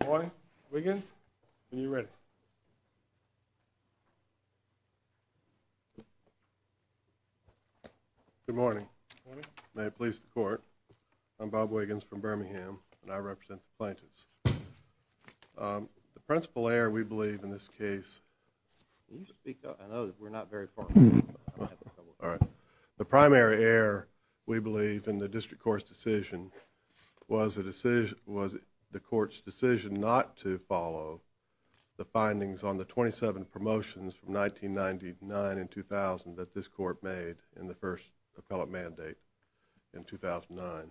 Good morning. May it please the court, I'm Bob Wiggins from Birmingham and I represent the plaintiffs. The principal error we believe in this case, Can you speak up? I know that we're not very formal. The primary error we believe in the district court's decision was the court's decision not to follow the findings on the 27 promotions from 1999 and 2000 that this court made in the first appellate mandate in 2009.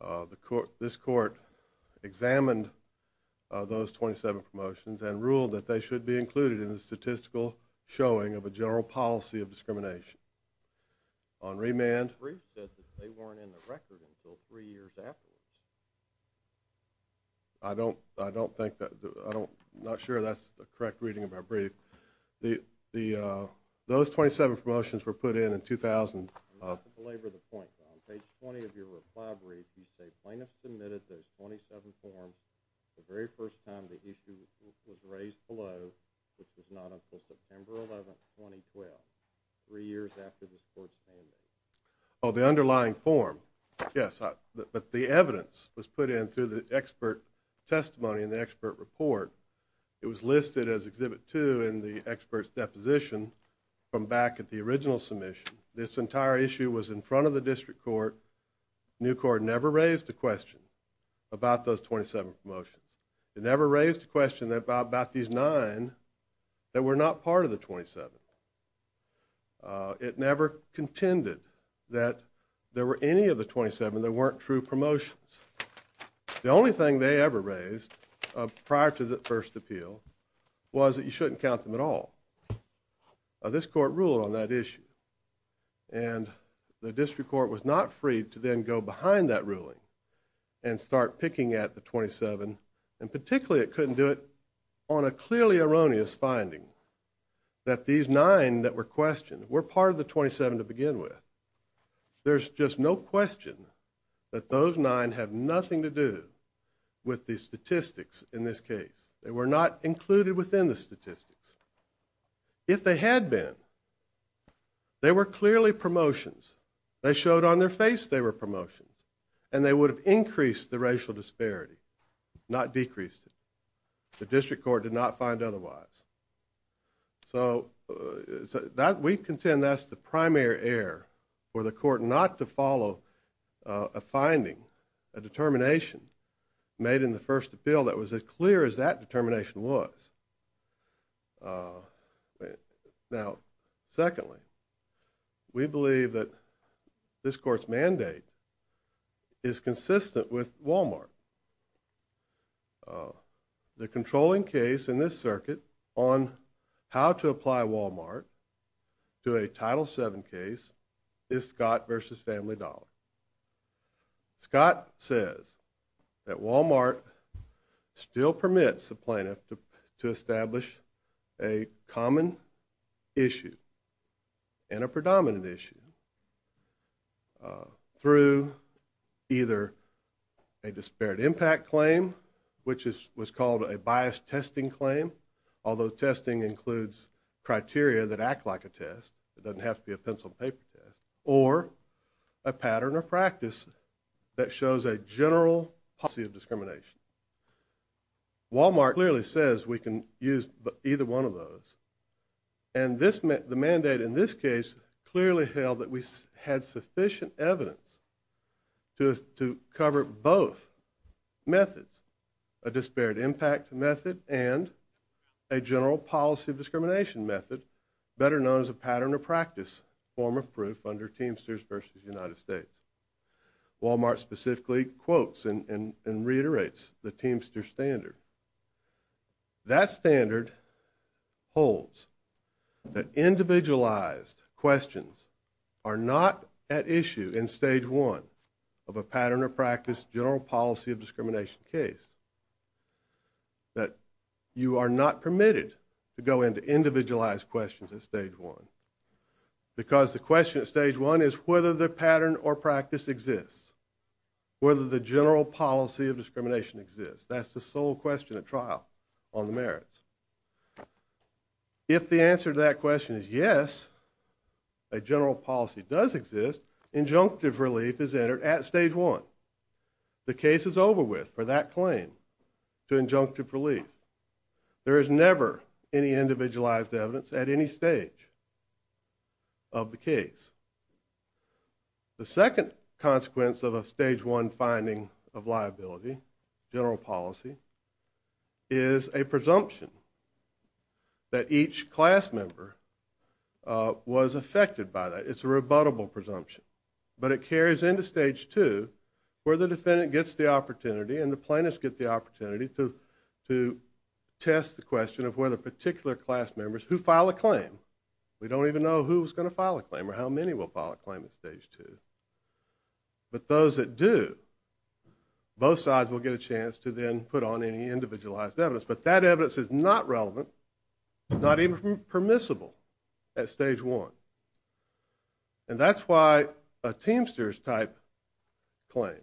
The court, this court examined those 27 promotions and ruled that they should be included in the statistical showing of a general policy of discrimination. On remand, I don't, I don't think that, I don't, I'm not sure that's the correct reading of our brief. Those 27 promotions were put in in 2000. On page 20 of your reply brief, you say plaintiffs submitted those 27 forms the very first time the issue was raised below, which was not until September 11, 2012, three years after this court's payment. Oh, the underlying form, yes, but the evidence was put in through the expert testimony and the expert report. It was listed as Exhibit 2 in the expert's deposition from back at the original submission. This entire issue was in front of the district court. Nucor never raised a question about those 27 promotions. It never raised a question about these nine that were not part of the 27. It never contended that there were any of the 27 that weren't true promotions. The only thing they ever raised prior to the first appeal was that you shouldn't count them at all. This court ruled on that issue and the district court was not free to then go behind that ruling and start picking at the 27. And particularly it couldn't do it on a clearly erroneous finding that these nine that were questioned were part of the 27 to begin with. There's just no question that those nine have nothing to do with the statistics in this case. They were not included within the statistics. If they had been, they were clearly promotions. They showed on their face they were promotions. And they would have increased the racial disparity, not decreased it. The district court did not find otherwise. So we contend that's the primary error for the court not to follow a finding, a determination made in the first appeal that was as clear as that determination was. Now, secondly, we believe that this court's mandate is consistent with Walmart. The controlling case in this circuit on how to apply Walmart to a Title VII case is Scott v. Family Dollar. Scott says that Walmart still permits the plaintiff to establish a common issue and a predominant issue through either a disparate impact claim, which was called a biased testing claim, although testing includes criteria that act like a test. It doesn't have to be a pencil and paper test. Or a pattern or practice that shows a general policy of discrimination. Walmart clearly says we can use either one of those. And the mandate in this case clearly held that we had sufficient evidence to cover both methods, a disparate impact method and a general policy of discrimination method, better known as a pattern or practice form of proof under Teamsters v. United States. Walmart specifically quotes and reiterates the Teamster standard. That standard holds that individualized questions are not at issue in Stage 1 of a pattern or practice general policy of discrimination case. That you are not permitted to go into individualized questions at Stage 1. Because the question at Stage 1 is whether the pattern or practice exists. Whether the general policy of discrimination exists. That's the sole question at trial on the merits. If the answer to that question is yes, a general policy does exist, injunctive relief is entered at Stage 1. The case is over with for that claim to injunctive relief. There is never any individualized evidence at any stage of the case. The second consequence of a Stage 1 finding of liability, general policy, is a presumption that each class member was affected by that. It's a rebuttable presumption. But it carries into Stage 2 where the defendant gets the opportunity and the plaintiffs get the opportunity to test the question of whether particular class members who file a claim, we don't even know who's going to file a claim or how many will file a claim at Stage 2. But those that do, both sides will get a chance to then put on any individualized evidence. But that evidence is not relevant. It's not even permissible at Stage 1. And that's why a Teamsters type claim,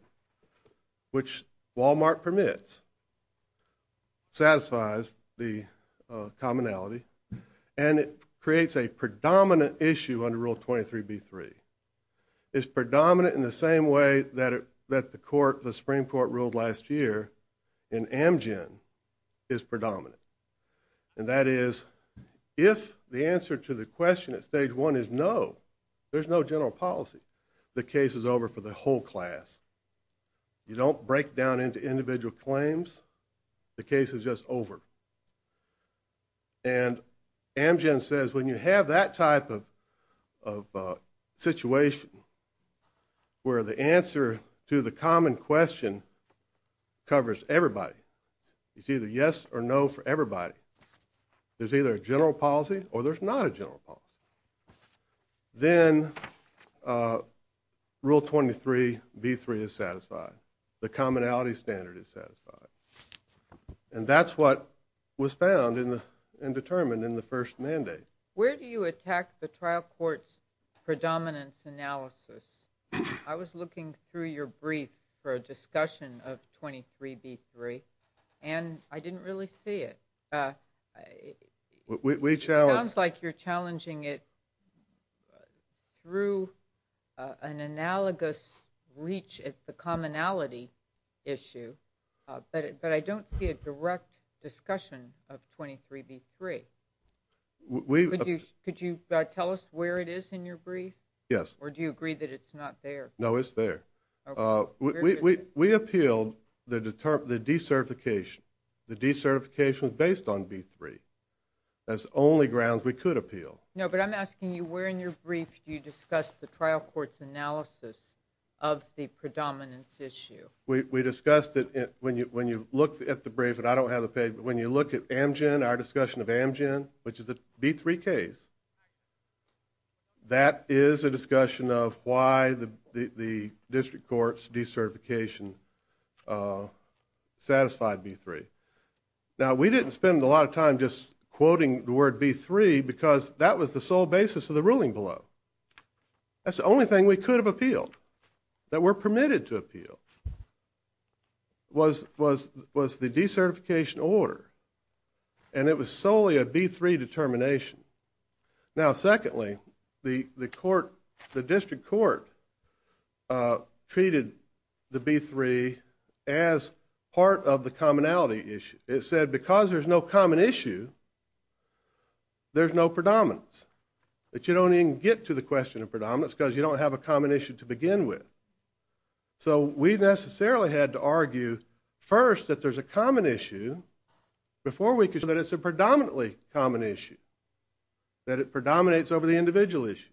which Walmart permits, satisfies the commonality and it creates a predominant issue under Rule 23b-3. It's predominant in the same way that the Supreme Court ruled last year in Amgen is predominant. And that is if the answer to the question at Stage 1 is no, there's no general policy, the case is over for the whole class. You don't break down into individual claims. The case is just over. And Amgen says when you have that type of situation where the answer to the common question covers everybody, it's either yes or no for everybody, there's either a general policy or there's not a general policy, then Rule 23b-3 is satisfied. The commonality standard is satisfied. And that's what was found and determined in the first mandate. Where do you attack the trial court's predominance analysis? I was looking through your brief for a discussion of 23b-3 and I didn't really see it. It sounds like you're challenging it through an analogous reach at the commonality issue, but I don't see a direct discussion of 23b-3. Could you tell us where it is in your brief? Yes. Or do you agree that it's not there? No, it's there. We appealed the decertification. The decertification was based on b-3. That's the only grounds we could appeal. No, but I'm asking you where in your brief do you discuss the trial court's analysis of the predominance issue? We discussed it when you look at the brief, and I don't have the paper, but when you look at our discussion of Amgen, which is a b-3 case, that is a discussion of why the district court's decertification satisfied b-3. Now, we didn't spend a lot of time just quoting the word b-3 because that was the sole basis of the ruling below. That's the only thing we could have appealed, that we're permitted to appeal, was the decertification order, and it was solely a b-3 determination. Now, secondly, the district court treated the b-3 as part of the commonality issue. It said because there's no common issue, there's no predominance, that you don't even get to the question of predominance because you don't have a common issue to begin with. So we necessarily had to argue first that there's a common issue before we could show that it's a predominantly common issue, that it predominates over the individual issues,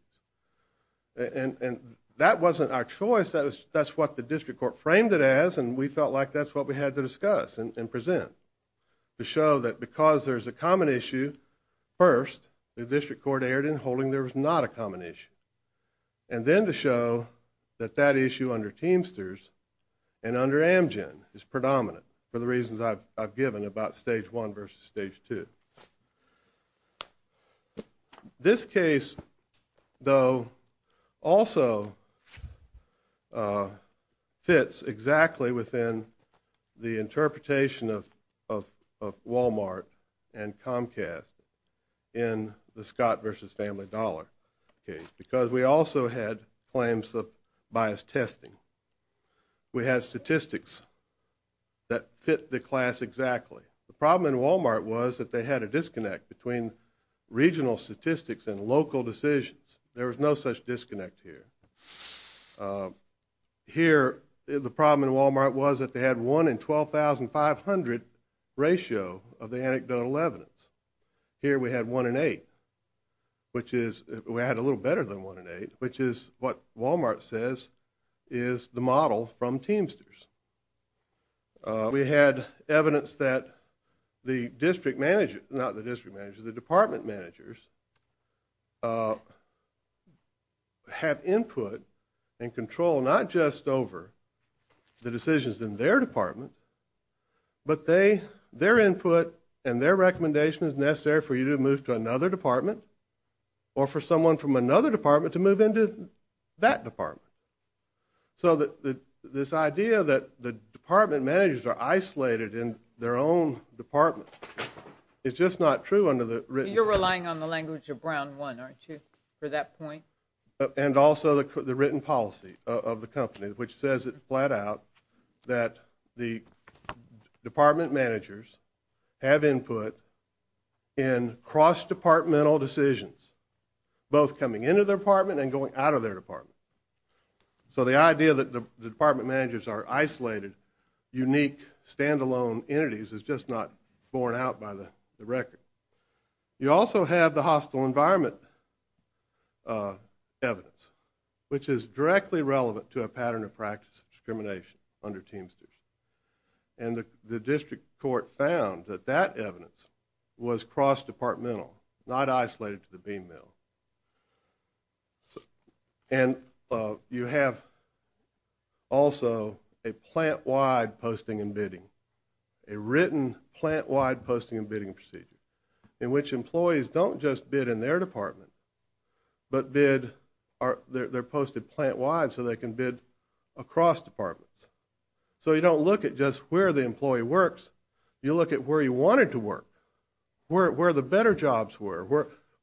and that wasn't our choice. That's what the district court framed it as, and we felt like that's what we had to discuss and present, to show that because there's a common issue, first, the district court erred in holding there was not a common issue, and then to show that that issue under Teamsters and under Amgen is predominant for the reasons I've given about Stage 1 versus Stage 2. This case, though, also fits exactly within the interpretation of Walmart and Comcast in the Scott versus Family Dollar case because we also had claims of biased testing. We had statistics that fit the class exactly. The problem in Walmart was that they had a disconnect between regional statistics and local decisions. There was no such disconnect here. Here, the problem in Walmart was that they had 1 in 12,500 ratio of the anecdotal evidence. Here we had 1 in 8, which is, we had a little better than 1 in 8, which is what Walmart says is the model from Teamsters. We had evidence that the district managers, not the district managers, the department managers have input and control not just over the decisions in their department, but their input and their recommendation is necessary for you to move to another department or for someone from another department to move into that department. So this idea that the department managers are isolated in their own department is just not true under the written policy. You're relying on the language of Brown 1, aren't you, for that point? And also the written policy of the company, which says it flat out that the department managers have input in cross-departmental decisions, both coming into their department and going out of their department. So the idea that the department managers are isolated, unique, stand-alone entities, is just not borne out by the record. You also have the hostile environment evidence, which is directly relevant to a pattern of practice of discrimination under Teamsters. And the district court found that that evidence was cross-departmental, not isolated to the bean mill. And you have also a plant-wide posting and bidding, a written plant-wide posting and bidding procedure, in which employees don't just bid in their department, but they're posted plant-wide so they can bid across departments. So you don't look at just where the employee works, you look at where he wanted to work, where the better jobs were,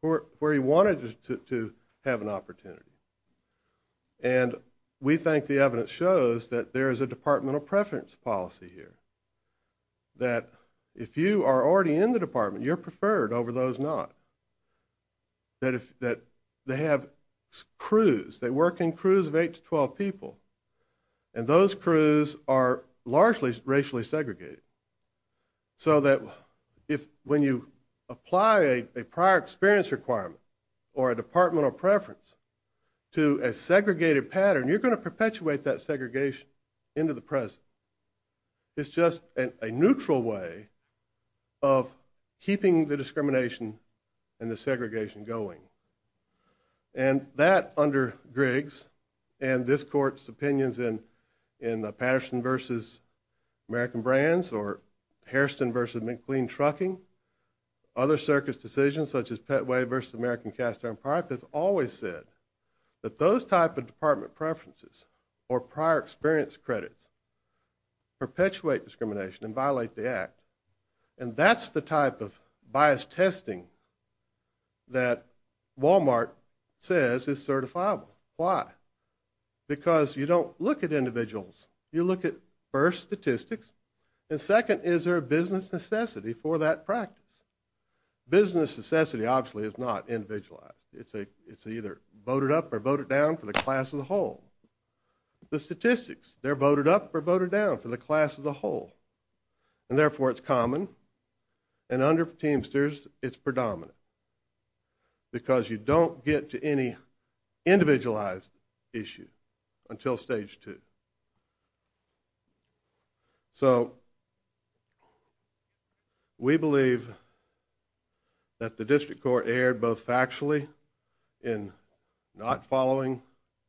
where he wanted to have an opportunity. And we think the evidence shows that there is a departmental preference policy here, that if you are already in the department, you're preferred over those not, that they have crews, they work in crews of 8 to 12 people, and those crews are largely racially segregated. So that when you apply a prior experience requirement, or a departmental preference to a segregated pattern, you're going to perpetuate that segregation into the present. It's just a neutral way of keeping the discrimination and the segregation going. And that, under Griggs, and this Court's opinions in Patterson v. American Brands, or Hairston v. McLean Trucking, other circus decisions such as Petway v. American Cast Iron Pipe, has always said that those type of department preferences, or prior experience credits, perpetuate discrimination and violate the Act. And that's the type of biased testing that Walmart says is certifiable. Why? Because you don't look at individuals, you look at, first, statistics, and second, is there a business necessity for that practice? Business necessity, obviously, is not individualized. It's either voted up or voted down for the class as a whole. The statistics, they're voted up or voted down for the class as a whole. And, therefore, it's common. And under Teamsters, it's predominant. Because you don't get to any individualized issues until Stage 2. So, we believe that the District Court erred both factually in not following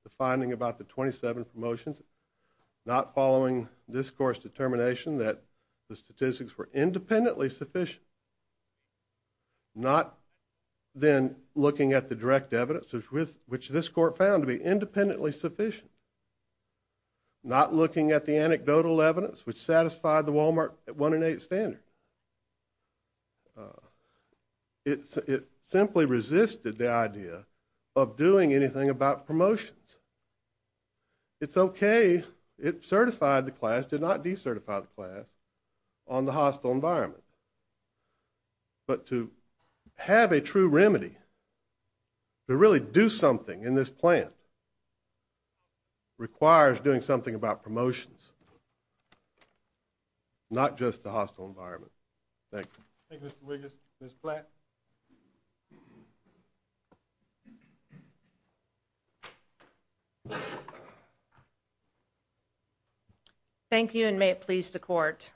the finding about the 27 promotions, not following this Court's determination that the statistics were independently sufficient, not then looking at the direct evidence, which this Court found to be independently sufficient, not looking at the anecdotal evidence which satisfied the Walmart 1 in 8 standard. It simply resisted the idea of doing anything about promotions. It's okay, it certified the class, did not decertify the class, on the hostile environment. But to have a true remedy, to really do something in this plant, requires doing something about promotions, not just the hostile environment. Thank you. Thank you, Mr. Wiggins. Ms. Platt? Thank you, and may it please the Court.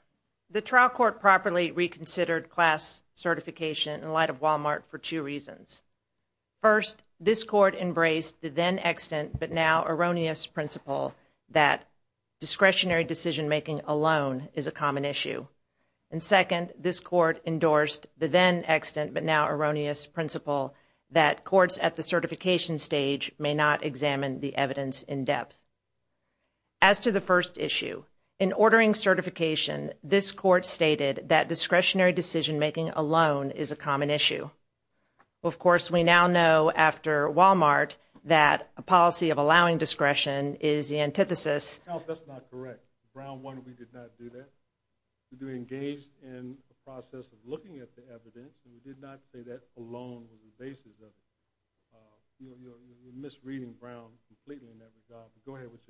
The trial court properly reconsidered class certification in light of Walmart for two reasons. First, this Court embraced the then extant but now erroneous principle that discretionary decision-making alone is a common issue. And, second, this Court endorsed the then extant but now erroneous principle that courts at the certification stage may not examine the evidence in depth. As to the first issue, in ordering certification, this Court stated that discretionary decision-making alone is a common issue. Of course, we now know after Walmart that a policy of allowing discretion is the antithesis. No, that's not correct. Brown 1, we did not do that. We engaged in the process of looking at the evidence, and we did not say that alone was the basis of it. You're misreading Brown completely in that regard. Go ahead with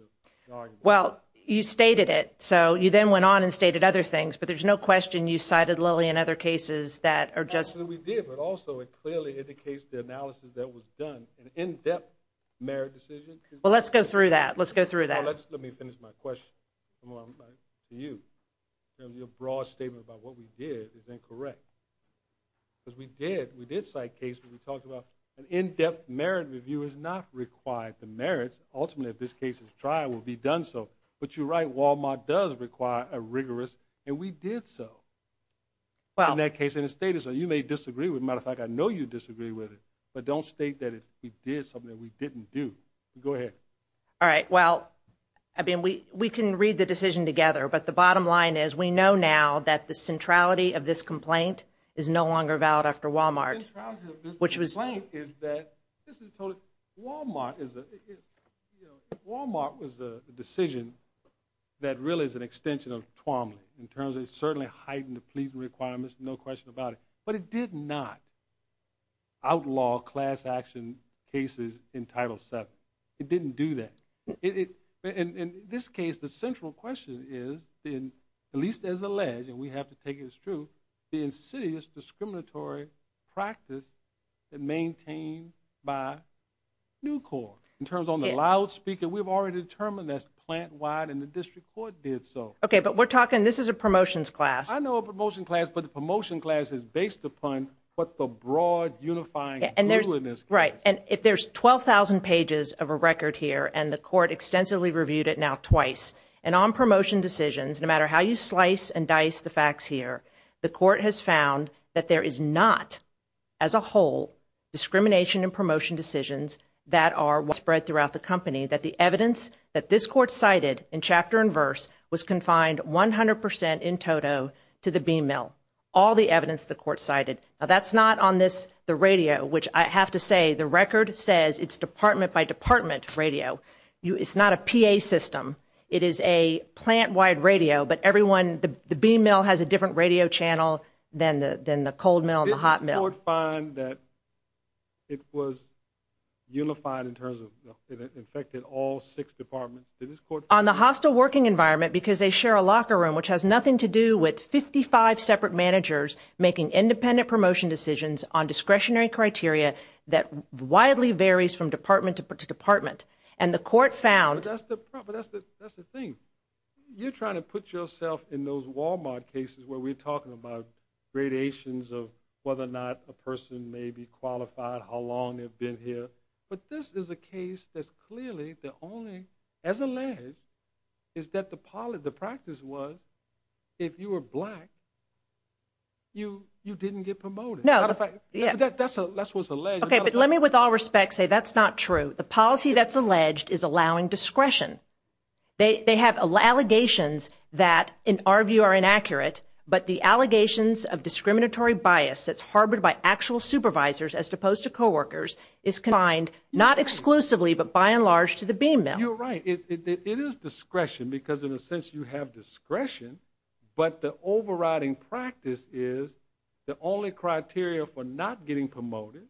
your argument. Well, you stated it. So you then went on and stated other things, but there's no question you cited Lilly and other cases that are just— We did, but also it clearly indicates the analysis that was done, an in-depth merit decision. Well, let's go through that. Let's go through that. Let me finish my question. To you. Your broad statement about what we did is incorrect, because we did cite cases where we talked about an in-depth merit review is not required. The merits ultimately of this case's trial will be done so. But you're right. Walmart does require a rigorous, and we did so in that case, and it stated so. You may disagree with it. As a matter of fact, I know you disagree with it, but don't state that we did something that we didn't do. Go ahead. All right. Well, I mean, we can read the decision together, but the bottom line is we know now that the centrality of this complaint is no longer valid after Walmart. The centrality of this complaint is that this is totally—Walmart is a— Walmart was a decision that really is an extension of Twombly in terms of it certainly heightened the pleasing requirements, no question about it. But it did not outlaw class action cases in Title VII. It didn't do that. In this case, the central question is, at least as alleged, and we have to take it as true, the insidious discriminatory practice maintained by New Corp. In terms of the loudspeaker, we've already determined that's plant-wide, and the district court did so. Okay, but we're talking—this is a promotions class. I know a promotion class, but the promotion class is based upon what the broad unifying rule in this case. Right, and if there's 12,000 pages of a record here, and the court extensively reviewed it now twice, and on promotion decisions, no matter how you slice and dice the facts here, the court has found that there is not, as a whole, discrimination in promotion decisions that are spread throughout the company, that the evidence that this court cited in chapter and verse was confined 100% in toto to the bean mill, all the evidence the court cited. Now, that's not on this—the radio, which I have to say, the record says it's department-by-department radio. It's not a PA system. It is a plant-wide radio, but everyone— the bean mill has a different radio channel than the cold mill and the hot mill. Did this court find that it was unified in terms of— it affected all six departments? Did this court— On the hostile working environment, because they share a locker room, which has nothing to do with 55 separate managers making independent promotion decisions on discretionary criteria that widely varies from department to department, and the court found— But that's the thing. You're trying to put yourself in those Walmart cases where we're talking about gradations of whether or not a person may be qualified, how long they've been here, but this is a case that's clearly the only—as alleged, is that the practice was if you were black, you didn't get promoted. That's what's alleged. Okay, but let me with all respect say that's not true. The policy that's alleged is allowing discretion. They have allegations that, in our view, are inaccurate, but the allegations of discriminatory bias that's harbored by actual supervisors as opposed to coworkers is confined not exclusively but by and large to the bean mill. You're right. It is discretion because, in a sense, you have discretion, but the overriding practice is the only criteria for not getting promoted,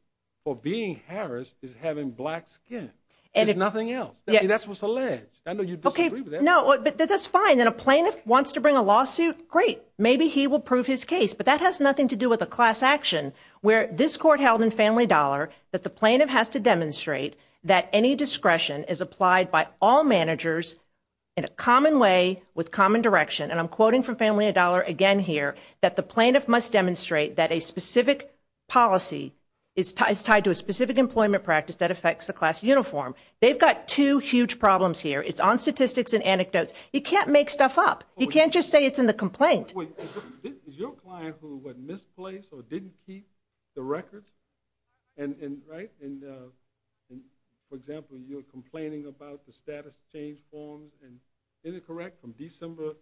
for being harassed, is having black skin. There's nothing else. That's what's alleged. I know you disagree with that. No, but that's fine. If a plaintiff wants to bring a lawsuit, great. Maybe he will prove his case, but that has nothing to do with a class action where this court held in Family Dollar that the plaintiff has to demonstrate that any discretion is applied by all managers in a common way with common direction, and I'm quoting from Family Dollar again here, that the plaintiff must demonstrate that a specific policy is tied to a specific employment practice that affects the class uniform. They've got two huge problems here. It's on statistics and anecdotes. You can't make stuff up. You can't just say it's in the complaint. Is your client who, what, misplaced or didn't keep the records, right? And, for example, you're complaining about the status change forms, and is it correct from December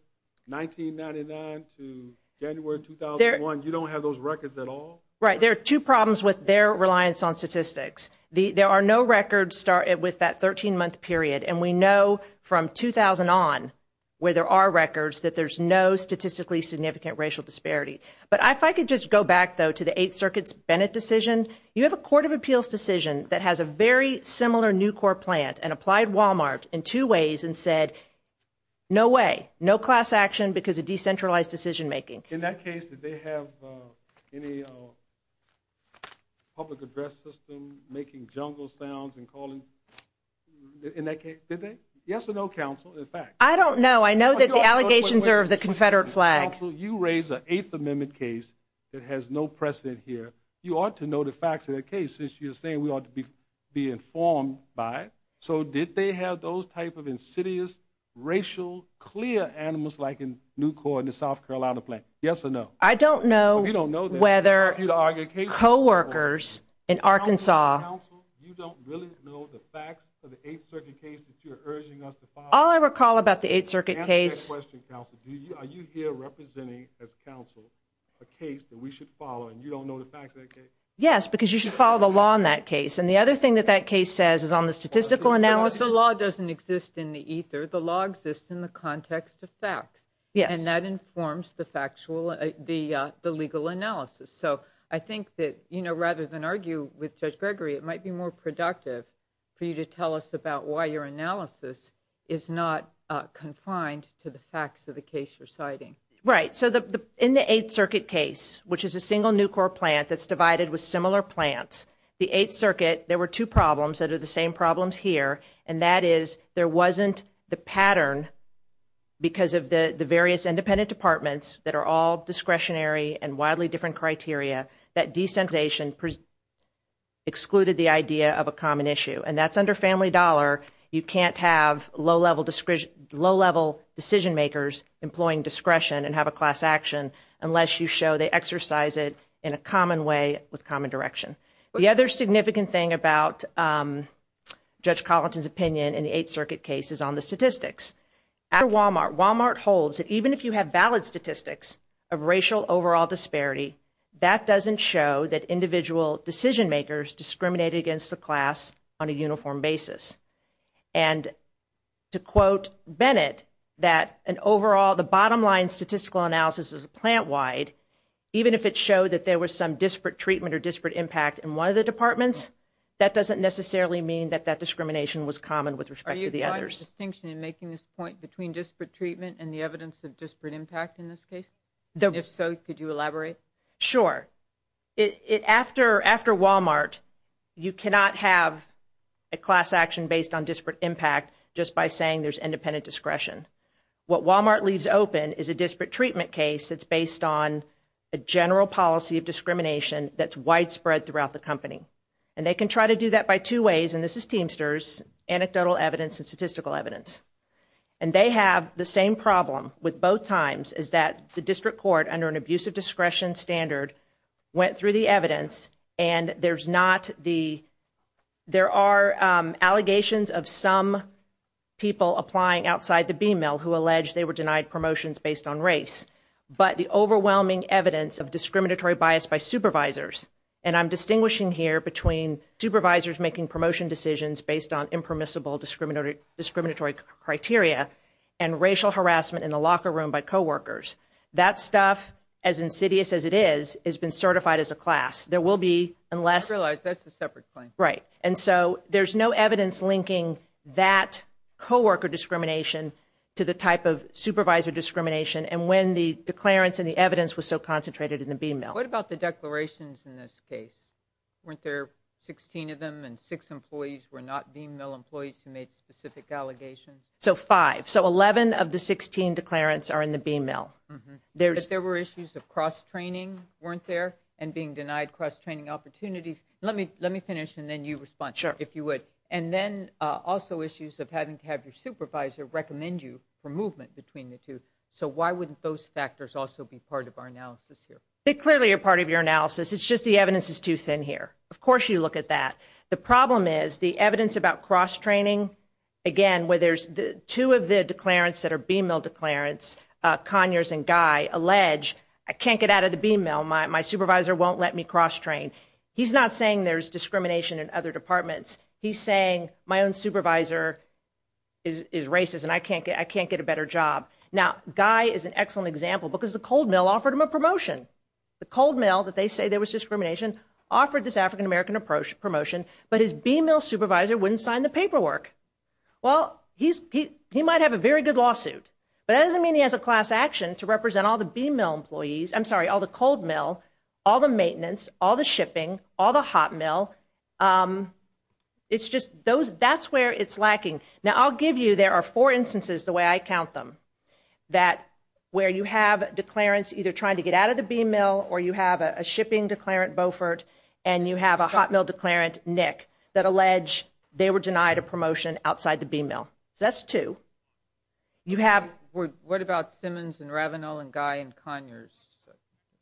1999 to January 2001, you don't have those records at all? Right. There are two problems with their reliance on statistics. There are no records with that 13-month period, and we know from 2000 on where there are records that there's no statistically significant racial disparity. But if I could just go back, though, to the Eighth Circuit's Bennett decision, you have a court of appeals decision that has a very similar new court plan and applied Walmart in two ways and said, no way, no class action because of decentralized decision making. In that case, did they have any public address system making jungle sounds and calling in that case? Did they? Yes or no, counsel, in fact? I don't know. I know that the allegations are of the Confederate flag. Counsel, you raise an Eighth Amendment case that has no precedent here. You ought to know the facts of the case since you're saying we ought to be informed by it. So did they have those type of insidious racial clear animals like in new court in the South Carolina plan? Yes or no? I don't know whether coworkers in Arkansas. Counsel, you don't really know the facts of the Eighth Circuit case that you're urging us to follow? All I recall about the Eighth Circuit case. Answer my question, counsel. Are you here representing as counsel a case that we should follow and you don't know the facts of that case? Yes, because you should follow the law in that case. And the other thing that that case says is on the statistical analysis. The law doesn't exist in the ether. The law exists in the context of facts. Yes. And that informs the factual, the legal analysis. So I think that rather than argue with Judge Gregory, it might be more productive for you to tell us about why your analysis is not confined to the facts of the case you're citing. Right. So in the Eighth Circuit case, which is a single new court plan that's divided with similar plans, the Eighth Circuit, there were two problems that are the same problems here. And that is there wasn't the pattern because of the various independent departments that are all discretionary and widely different criteria that desensitization excluded the idea of a common issue. And that's under family dollar. You can't have low-level decision makers employing discretion and have a class action unless you show they exercise it in a common way with common direction. The other significant thing about Judge Collington's opinion in the Eighth Circuit case is on the statistics. After Walmart, Walmart holds that even if you have valid statistics of racial overall disparity, that doesn't show that individual decision makers discriminate against the class on a uniform basis. And to quote Bennett, that an overall, the bottom line statistical analysis is plant-wide, even if it showed that there was some disparate treatment or disparate impact in one of the departments, that doesn't necessarily mean that that discrimination was common with respect to the others. Is there a distinction in making this point between disparate treatment and the evidence of disparate impact in this case? If so, could you elaborate? Sure. After Walmart, you cannot have a class action based on disparate impact just by saying there's independent discretion. What Walmart leaves open is a disparate treatment case that's based on a general policy of discrimination that's widespread throughout the company. And they can try to do that by two ways, and this is Teamsters, anecdotal evidence and statistical evidence. And they have the same problem with both times, is that the district court, under an abusive discretion standard, went through the evidence and there's not the, there are allegations of some people applying outside the BMIL who allege they were denied promotions based on race. But the overwhelming evidence of discriminatory bias by supervisors, and I'm distinguishing here between supervisors making promotion decisions based on permissible discriminatory criteria, and racial harassment in the locker room by co-workers. That stuff, as insidious as it is, has been certified as a class. There will be, unless- I realize that's a separate claim. Right. And so there's no evidence linking that co-worker discrimination to the type of supervisor discrimination, and when the declarants and the evidence was so concentrated in the BMIL. What about the declarations in this case? Weren't there 16 of them and six employees were not BMIL employees who made specific allegations? So five. So 11 of the 16 declarants are in the BMIL. But there were issues of cross-training weren't there, and being denied cross-training opportunities. Let me finish and then you respond, if you would. Sure. And then also issues of having to have your supervisor recommend you for movement between the two. They clearly are part of your analysis. It's just the evidence is too thin here. Of course you look at that. The problem is the evidence about cross-training, again, where there's two of the declarants that are BMIL declarants, Conyers and Guy, allege, I can't get out of the BMIL. My supervisor won't let me cross-train. He's not saying there's discrimination in other departments. He's saying my own supervisor is racist and I can't get a better job. Now, Guy is an excellent example because the cold mill offered him a promotion. The cold mill that they say there was discrimination offered this African-American promotion, but his BMIL supervisor wouldn't sign the paperwork. Well, he might have a very good lawsuit, but that doesn't mean he has a class action to represent all the BMIL employees. I'm sorry, all the cold mill, all the maintenance, all the shipping, all the hot mill. That's where it's lacking. Now, I'll give you, there are four instances the way I count them, that where you have declarants either trying to get out of the BMIL or you have a shipping declarant, Beaufort, and you have a hot mill declarant, Nick, that allege they were denied a promotion outside the BMIL. So that's two. What about Simmons and Ravenel and Guy and Conyers? Are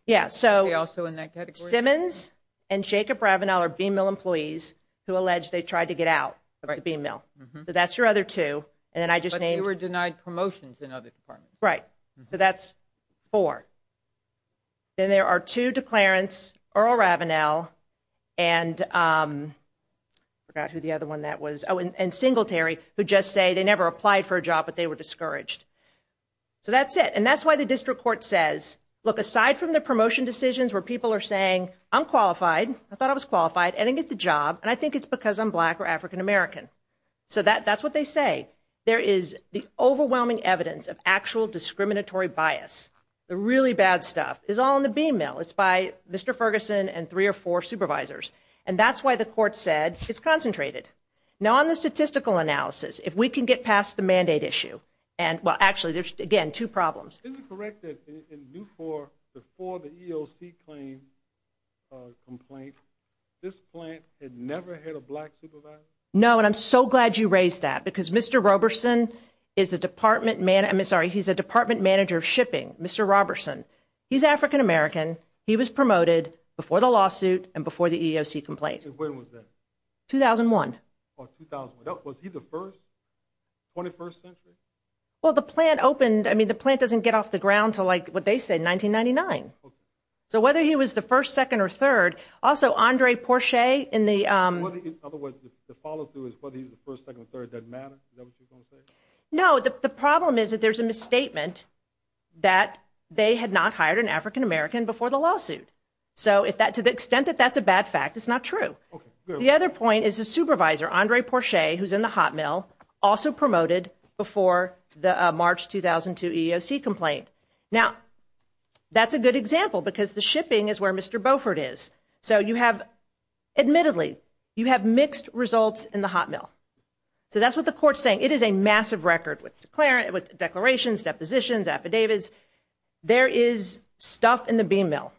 they also in that category? Simmons and Jacob Ravenel are BMIL employees who allege they tried to get out of the BMIL. So that's your other two. But they were denied promotions in other departments. Right. So that's four. Then there are two declarants, Earl Ravenel and I forgot who the other one that was, and Singletary, who just say they never applied for a job, but they were discouraged. So that's it. And that's why the district court says, look, aside from the promotion decisions where people are saying I'm qualified, I thought I was qualified, I didn't get the job, and I think it's because I'm black or African American. So that's what they say. There is the overwhelming evidence of actual discriminatory bias. The really bad stuff is all in the BMIL. It's by Mr. Ferguson and three or four supervisors. And that's why the court said it's concentrated. Now, on the statistical analysis, if we can get past the mandate issue, and, well, actually, there's, again, two problems. Isn't it correct that in Newport, before the EOC complaint, this plant had never had a black supervisor? No, and I'm so glad you raised that, because Mr. Roberson is a department manager of shipping. Mr. Roberson, he's African American. He was promoted before the lawsuit and before the EOC complaint. And when was that? 2001. Oh, 2001. Was he the first, 21st century? Well, the plant opened. I mean, the plant doesn't get off the ground to, like, what they say, 1999. So whether he was the first, second, or third, also, Andre Porsche in the other words, the follow through is whether he's the first, second, or third, does that matter? Is that what you're going to say? No. The problem is that there's a misstatement that they had not hired an African American before the lawsuit. So to the extent that that's a bad fact, it's not true. The other point is the supervisor, Andre Porsche, who's in the hot mill, also promoted before the March 2002 EOC complaint. Now, that's a good example because the shipping is where Mr. Beaufort is. So you have, admittedly, you have mixed results in the hot mill. So that's what the court's saying. It is a massive record with declarations, depositions, affidavits. There is stuff in the beam mill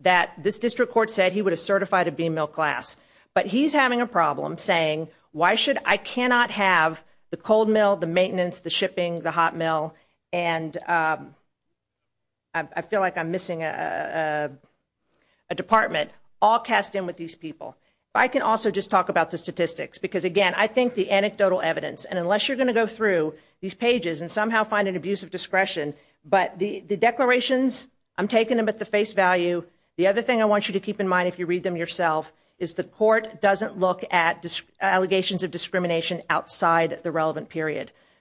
that this district court said he would have certified a beam mill class. But he's having a problem saying, why should I cannot have the cold mill, the maintenance, the shipping, the hot mill, and I feel like I'm missing a department, all cast in with these people. But I can also just talk about the statistics. Because, again, I think the anecdotal evidence, and unless you're going to go through these pages and somehow find an abuse of discretion, but the declarations, I'm taking them at the face value. The other thing I want you to keep in mind if you read them yourself is the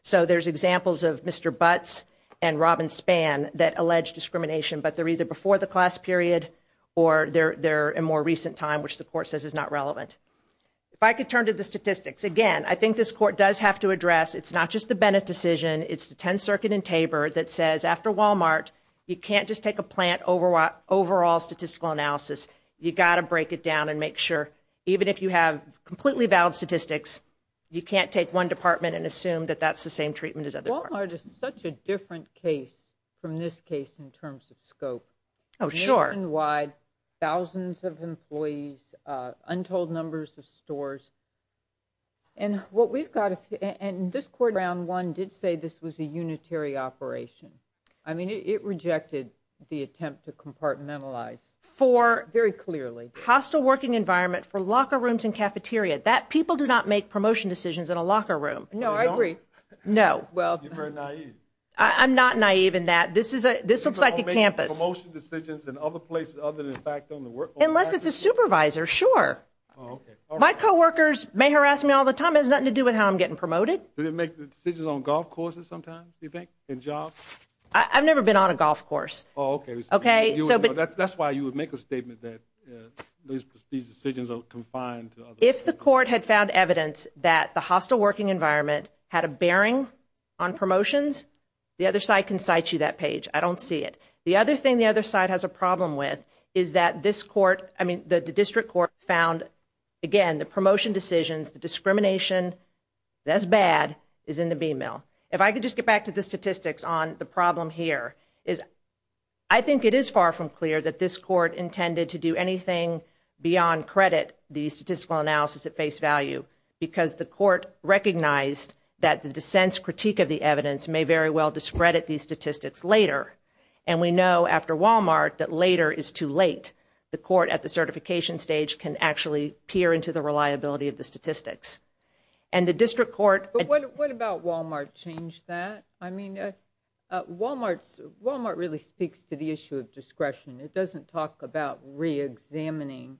So there's examples of Mr. Butts and Robin Spann that allege discrimination, but they're either before the class period or they're in more recent time, which the court says is not relevant. If I could turn to the statistics, again, I think this court does have to address it's not just the Bennett decision, it's the 10th Circuit in Tabor that says, after Walmart, you can't just take a plant overall statistical analysis. You've got to break it down and make sure, even if you have completely valid statistics, you can't take one department and assume that that's the same treatment as other departments. Walmart is such a different case from this case in terms of scope. Oh, sure. Nationwide, thousands of employees, untold numbers of stores. And what we've got, and this court, round one, did say this was a unitary operation. I mean, it rejected the attempt to compartmentalize very clearly. For hostile working environment, for locker rooms and cafeteria, that people do not make promotion decisions in a locker room. No, I agree. No. You're very naive. I'm not naive in that. This looks like a campus. People don't make promotion decisions in other places other than, in fact, on the campus? Unless it's a supervisor, sure. My coworkers may harass me all the time. It has nothing to do with how I'm getting promoted. Do they make decisions on golf courses sometimes, do you think, in jobs? I've never been on a golf course. Oh, okay. That's why you would make a statement that these decisions are confined to the campus. If the court had found evidence that the hostile working environment had a bearing on promotions, the other side can cite you that page. I don't see it. The other thing the other side has a problem with is that this court, I mean, the district court found, again, the promotion decisions, the discrimination, that's bad, is in the bean mill. If I could just get back to the statistics on the problem here, I think it is far from clear that this court intended to do anything beyond credit the statistical analysis at face value because the court recognized that the dissent's critique of the evidence may very well discredit these statistics later. And we know after Wal-Mart that later is too late. The court at the certification stage can actually peer into the reliability of the statistics. And the district court – But what about Wal-Mart changed that? I mean, Wal-Mart really speaks to the issue of discretion. It doesn't talk about reexamining.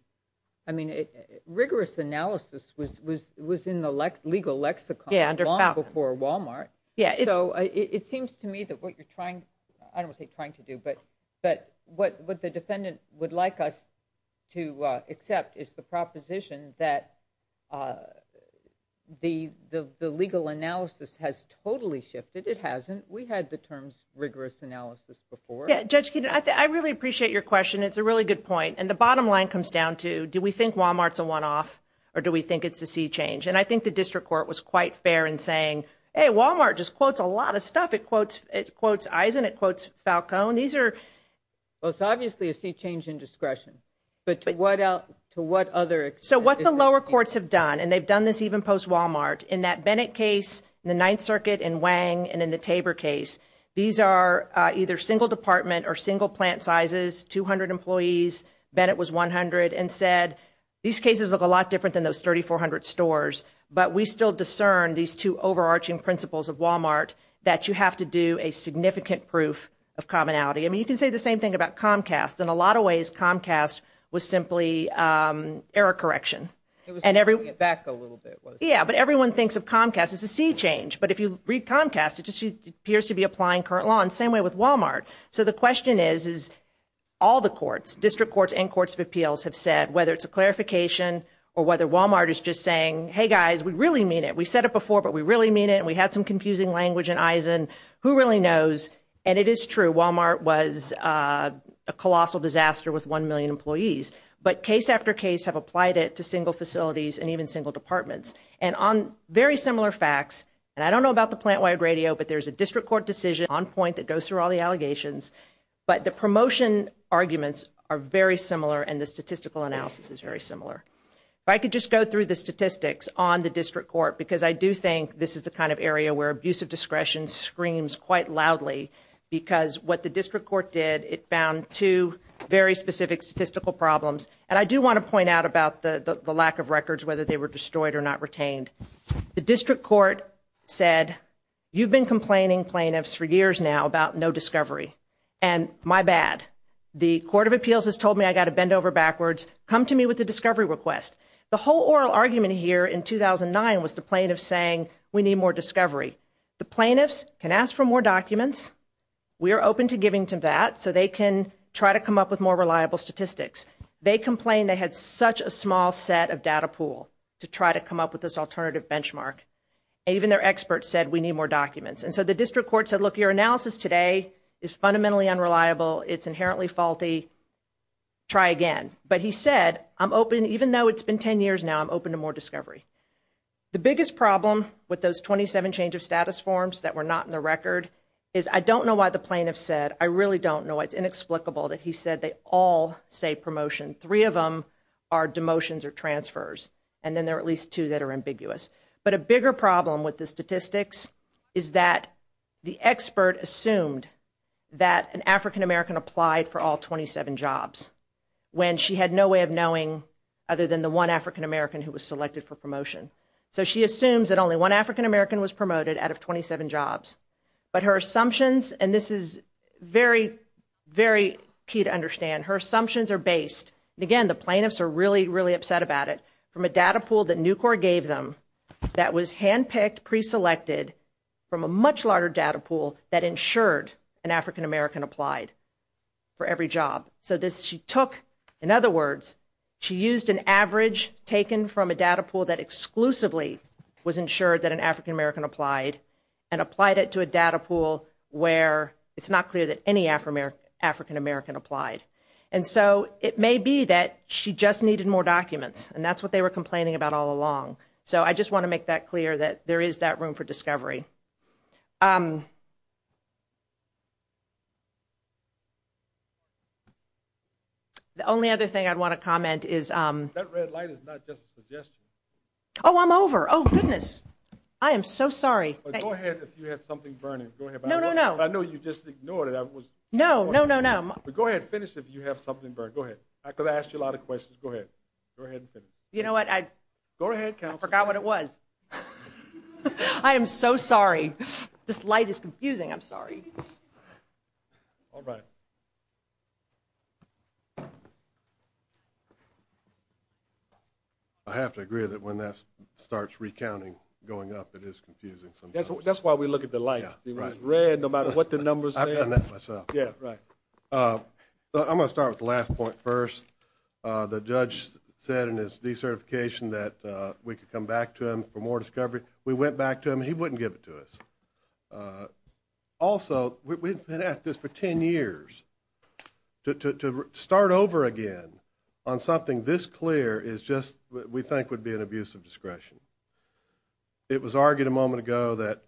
I mean, rigorous analysis was in the legal lexicon long before Wal-Mart. So it seems to me that what you're trying, I don't want to say trying to do, but what the defendant would like us to accept is the proposition that the legal analysis has totally shifted. It hasn't. We had the terms rigorous analysis before. Judge Keenan, I really appreciate your question. It's a really good point. And the bottom line comes down to do we think Wal-Mart's a one-off or do we think it's a sea change? And I think the district court was quite fair in saying, hey, Wal-Mart just quotes a lot of stuff. It quotes Eisen. It quotes Falcone. These are – Well, it's obviously a sea change in discretion. But to what other – So what the lower courts have done, and they've done this even post-Wal-Mart, in that Bennett case, in the Ninth Circuit, in Wang, and in the Tabor case, these are either single department or single plant sizes, 200 employees. Bennett was 100 and said, these cases look a lot different than those 3,400 stores, but we still discern these two overarching principles of Wal-Mart, that you have to do a significant proof of commonality. I mean, you can say the same thing about Comcast. In a lot of ways, Comcast was simply error correction. It was pulling it back a little bit. Yeah, but everyone thinks of Comcast as a sea change. But if you read Comcast, it just appears to be applying current law in the same way with Wal-Mart. So the question is, is all the courts, district courts and courts of appeals, have said, whether it's a clarification or whether Wal-Mart is just saying, hey, guys, we really mean it. We said it before, but we really mean it, and we had some confusing language in Eisen. Who really knows? And it is true. Wal-Mart was a colossal disaster with 1 million employees. But case after case have applied it to single facilities and even single departments. And on very similar facts, and I don't know about the plant-wired radio, but there's a district court decision on point that goes through all the allegations. But the promotion arguments are very similar, and the statistical analysis is very similar. If I could just go through the statistics on the district court, because I do think this is the kind of area where abuse of discretion screams quite loudly, because what the district court did, it found two very specific statistical problems. And I do want to point out about the lack of records, whether they were destroyed or not retained. The district court said, you've been complaining, plaintiffs, for years now about no discovery. And my bad. The Court of Appeals has told me I've got to bend over backwards. Come to me with a discovery request. The whole oral argument here in 2009 was the plaintiffs saying, we need more discovery. The plaintiffs can ask for more documents. We are open to giving to that so they can try to come up with more reliable statistics. They complained they had such a small set of data pool to try to come up with this alternative benchmark. Even their experts said, we need more documents. And so the district court said, look, your analysis today is fundamentally unreliable. It's inherently faulty. Try again. But he said, I'm open, even though it's been 10 years now, I'm open to more discovery. The biggest problem with those 27 change of status forms that were not in the record is I don't know why the plaintiffs said, I really don't know. It's inexplicable that he said they all say promotion. Three of them are demotions or transfers. And then there are at least two that are ambiguous. But a bigger problem with the statistics is that the expert assumed that an African-American applied for all 27 jobs when she had no way of knowing other than the one African-American who was selected for promotion. So she assumes that only one African-American was promoted out of 27 jobs. But her assumptions, and this is very, very key to understand, her assumptions are based, and again, the plaintiffs are really, really upset about it from a data pool that Nucor gave them that was handpicked, preselected from a much larger data pool that ensured an African-American applied for every job. So this, she took, in other words, she used an average taken from a data pool that exclusively was ensured that an African-American applied and applied it to a data pool where it's not clear that any African-American applied. And so it may be that she just needed more documents, and that's what they were complaining about all along. So I just want to make that clear that there is that room for discovery. The only other thing I'd want to comment is – That red light is not just a suggestion. Oh, I'm over. Oh, goodness. I am so sorry. Go ahead if you have something burning. Go ahead. No, no, no. I know you just ignored it. No, no, no, no. Go ahead. Finish if you have something burning. Go ahead. I could ask you a lot of questions. Go ahead. Go ahead and finish. You know what? Go ahead. I forgot what it was. I am so sorry. This light is confusing. I'm sorry. All right. I have to agree that when that starts recounting going up, it is confusing sometimes. That's why we look at the lights. It was red no matter what the numbers were. I've done that myself. Yeah, right. I'm going to start with the last point first. The judge said in his decertification that we could come back to him for more discovery. We went back to him, and he wouldn't give it to us. Also, we've been at this for 10 years. To start over again on something this clear is just what we think would be an abuse of discretion. It was argued a moment ago that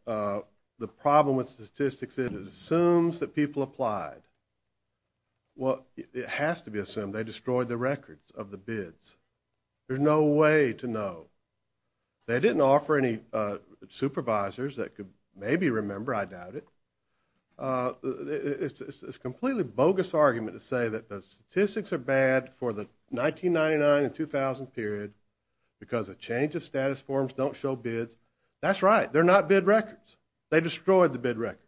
the problem with statistics is it assumes that people applied. Well, it has to be assumed. They destroyed the records of the bids. There's no way to know. They didn't offer any supervisors that could maybe remember, I doubt it. It's a completely bogus argument to say that the statistics are bad for the 1999 and 2000 period because a change of status forms don't show bids. That's right. They're not bid records. They destroyed the bid records.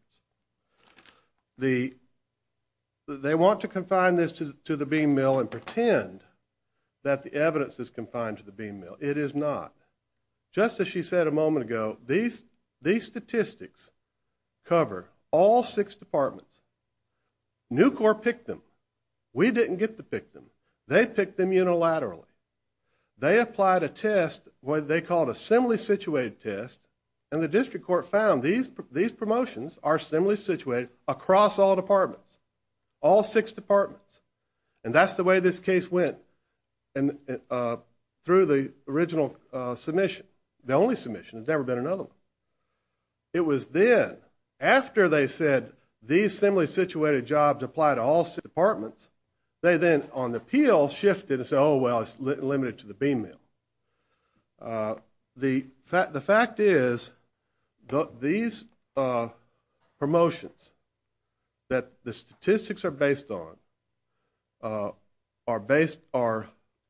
They want to confine this to the bean mill and pretend that the evidence is confined to the bean mill. It is not. Just as she said a moment ago, these statistics cover all six departments. Newcorp picked them. We didn't get to pick them. They picked them unilaterally. They applied a test, what they called a similarly situated test, and the district court found these promotions are similarly situated across all departments, all six departments. And that's the way this case went through the original submission, the only submission. There's never been another one. It was then, after they said these similarly situated jobs apply to all six departments, they then on the appeal shifted and said, oh, well, it's limited to the bean mill. The fact is these promotions that the statistics are based on are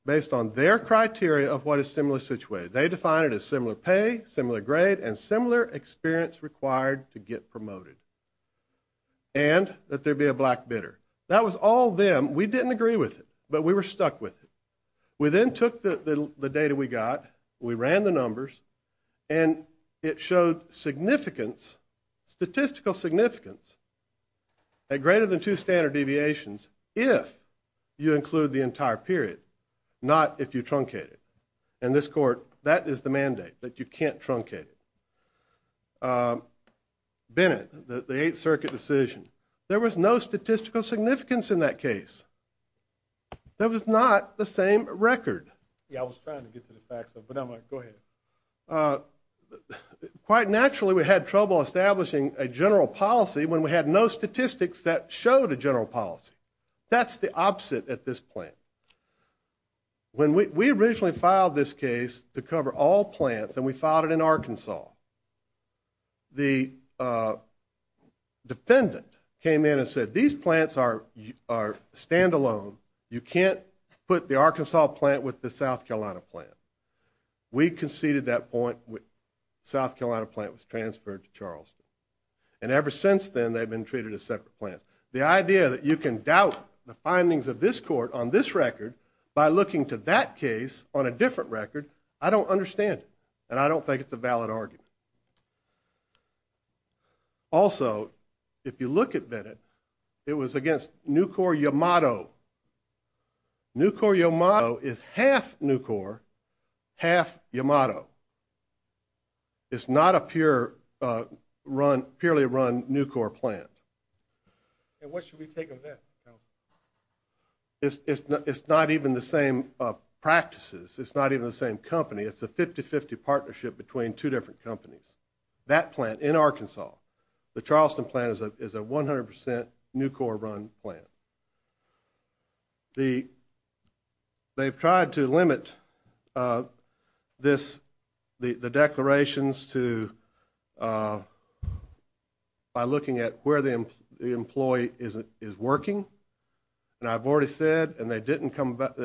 based on their criteria of what is similarly situated. They define it as similar pay, similar grade, and similar experience required to get promoted and that there be a black bidder. That was all them. We didn't agree with it, but we were stuck with it. We then took the data we got, we ran the numbers, and it showed significance, statistical significance, at greater than two standard deviations if you include the entire period, not if you truncate it. And this court, that is the mandate, that you can't truncate it. Bennett, the Eighth Circuit decision, there was no statistical significance in that case. That was not the same record. Yeah, I was trying to get to the facts, but I'm like, go ahead. Quite naturally, we had trouble establishing a general policy when we had no statistics that showed a general policy. That's the opposite at this point. When we originally filed this case to cover all plants, and we filed it in Arkansas, the defendant came in and said, these plants are standalone. You can't put the Arkansas plant with the South Carolina plant. We conceded that point. The South Carolina plant was transferred to Charleston. And ever since then, they've been treated as separate plants. The idea that you can doubt the findings of this court on this record by looking to that case on a different record, I don't understand it, and I don't think it's a valid argument. Also, if you look at Bennett, it was against Nucor-Yamato. Nucor-Yamato is half Nucor, half Yamato. It's not a purely run Nucor plant. And what should we take of that? It's not even the same practices. It's not even the same company. It's a 50-50 partnership between two different companies. That plant in Arkansas, the Charleston plant, is a 100% Nucor-run plant. They've tried to limit the declarations by looking at where the employee is working. And I've already said, and they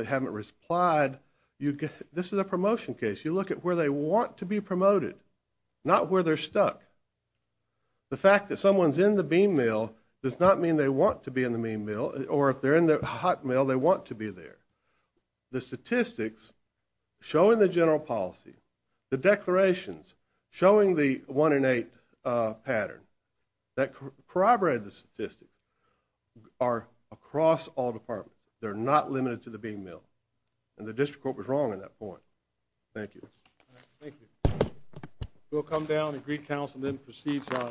haven't replied, this is a promotion case. You look at where they want to be promoted, not where they're stuck. The fact that someone's in the bean mill does not mean they want to be in the bean mill, or if they're in the hot mill, they want to be there. The statistics showing the general policy, the declarations showing the 1 in 8 pattern, that corroborate the statistics, are across all departments. They're not limited to the bean mill. And the district court was wrong on that point. Thank you. Thank you. We'll come down and greet counsel and then proceed to our...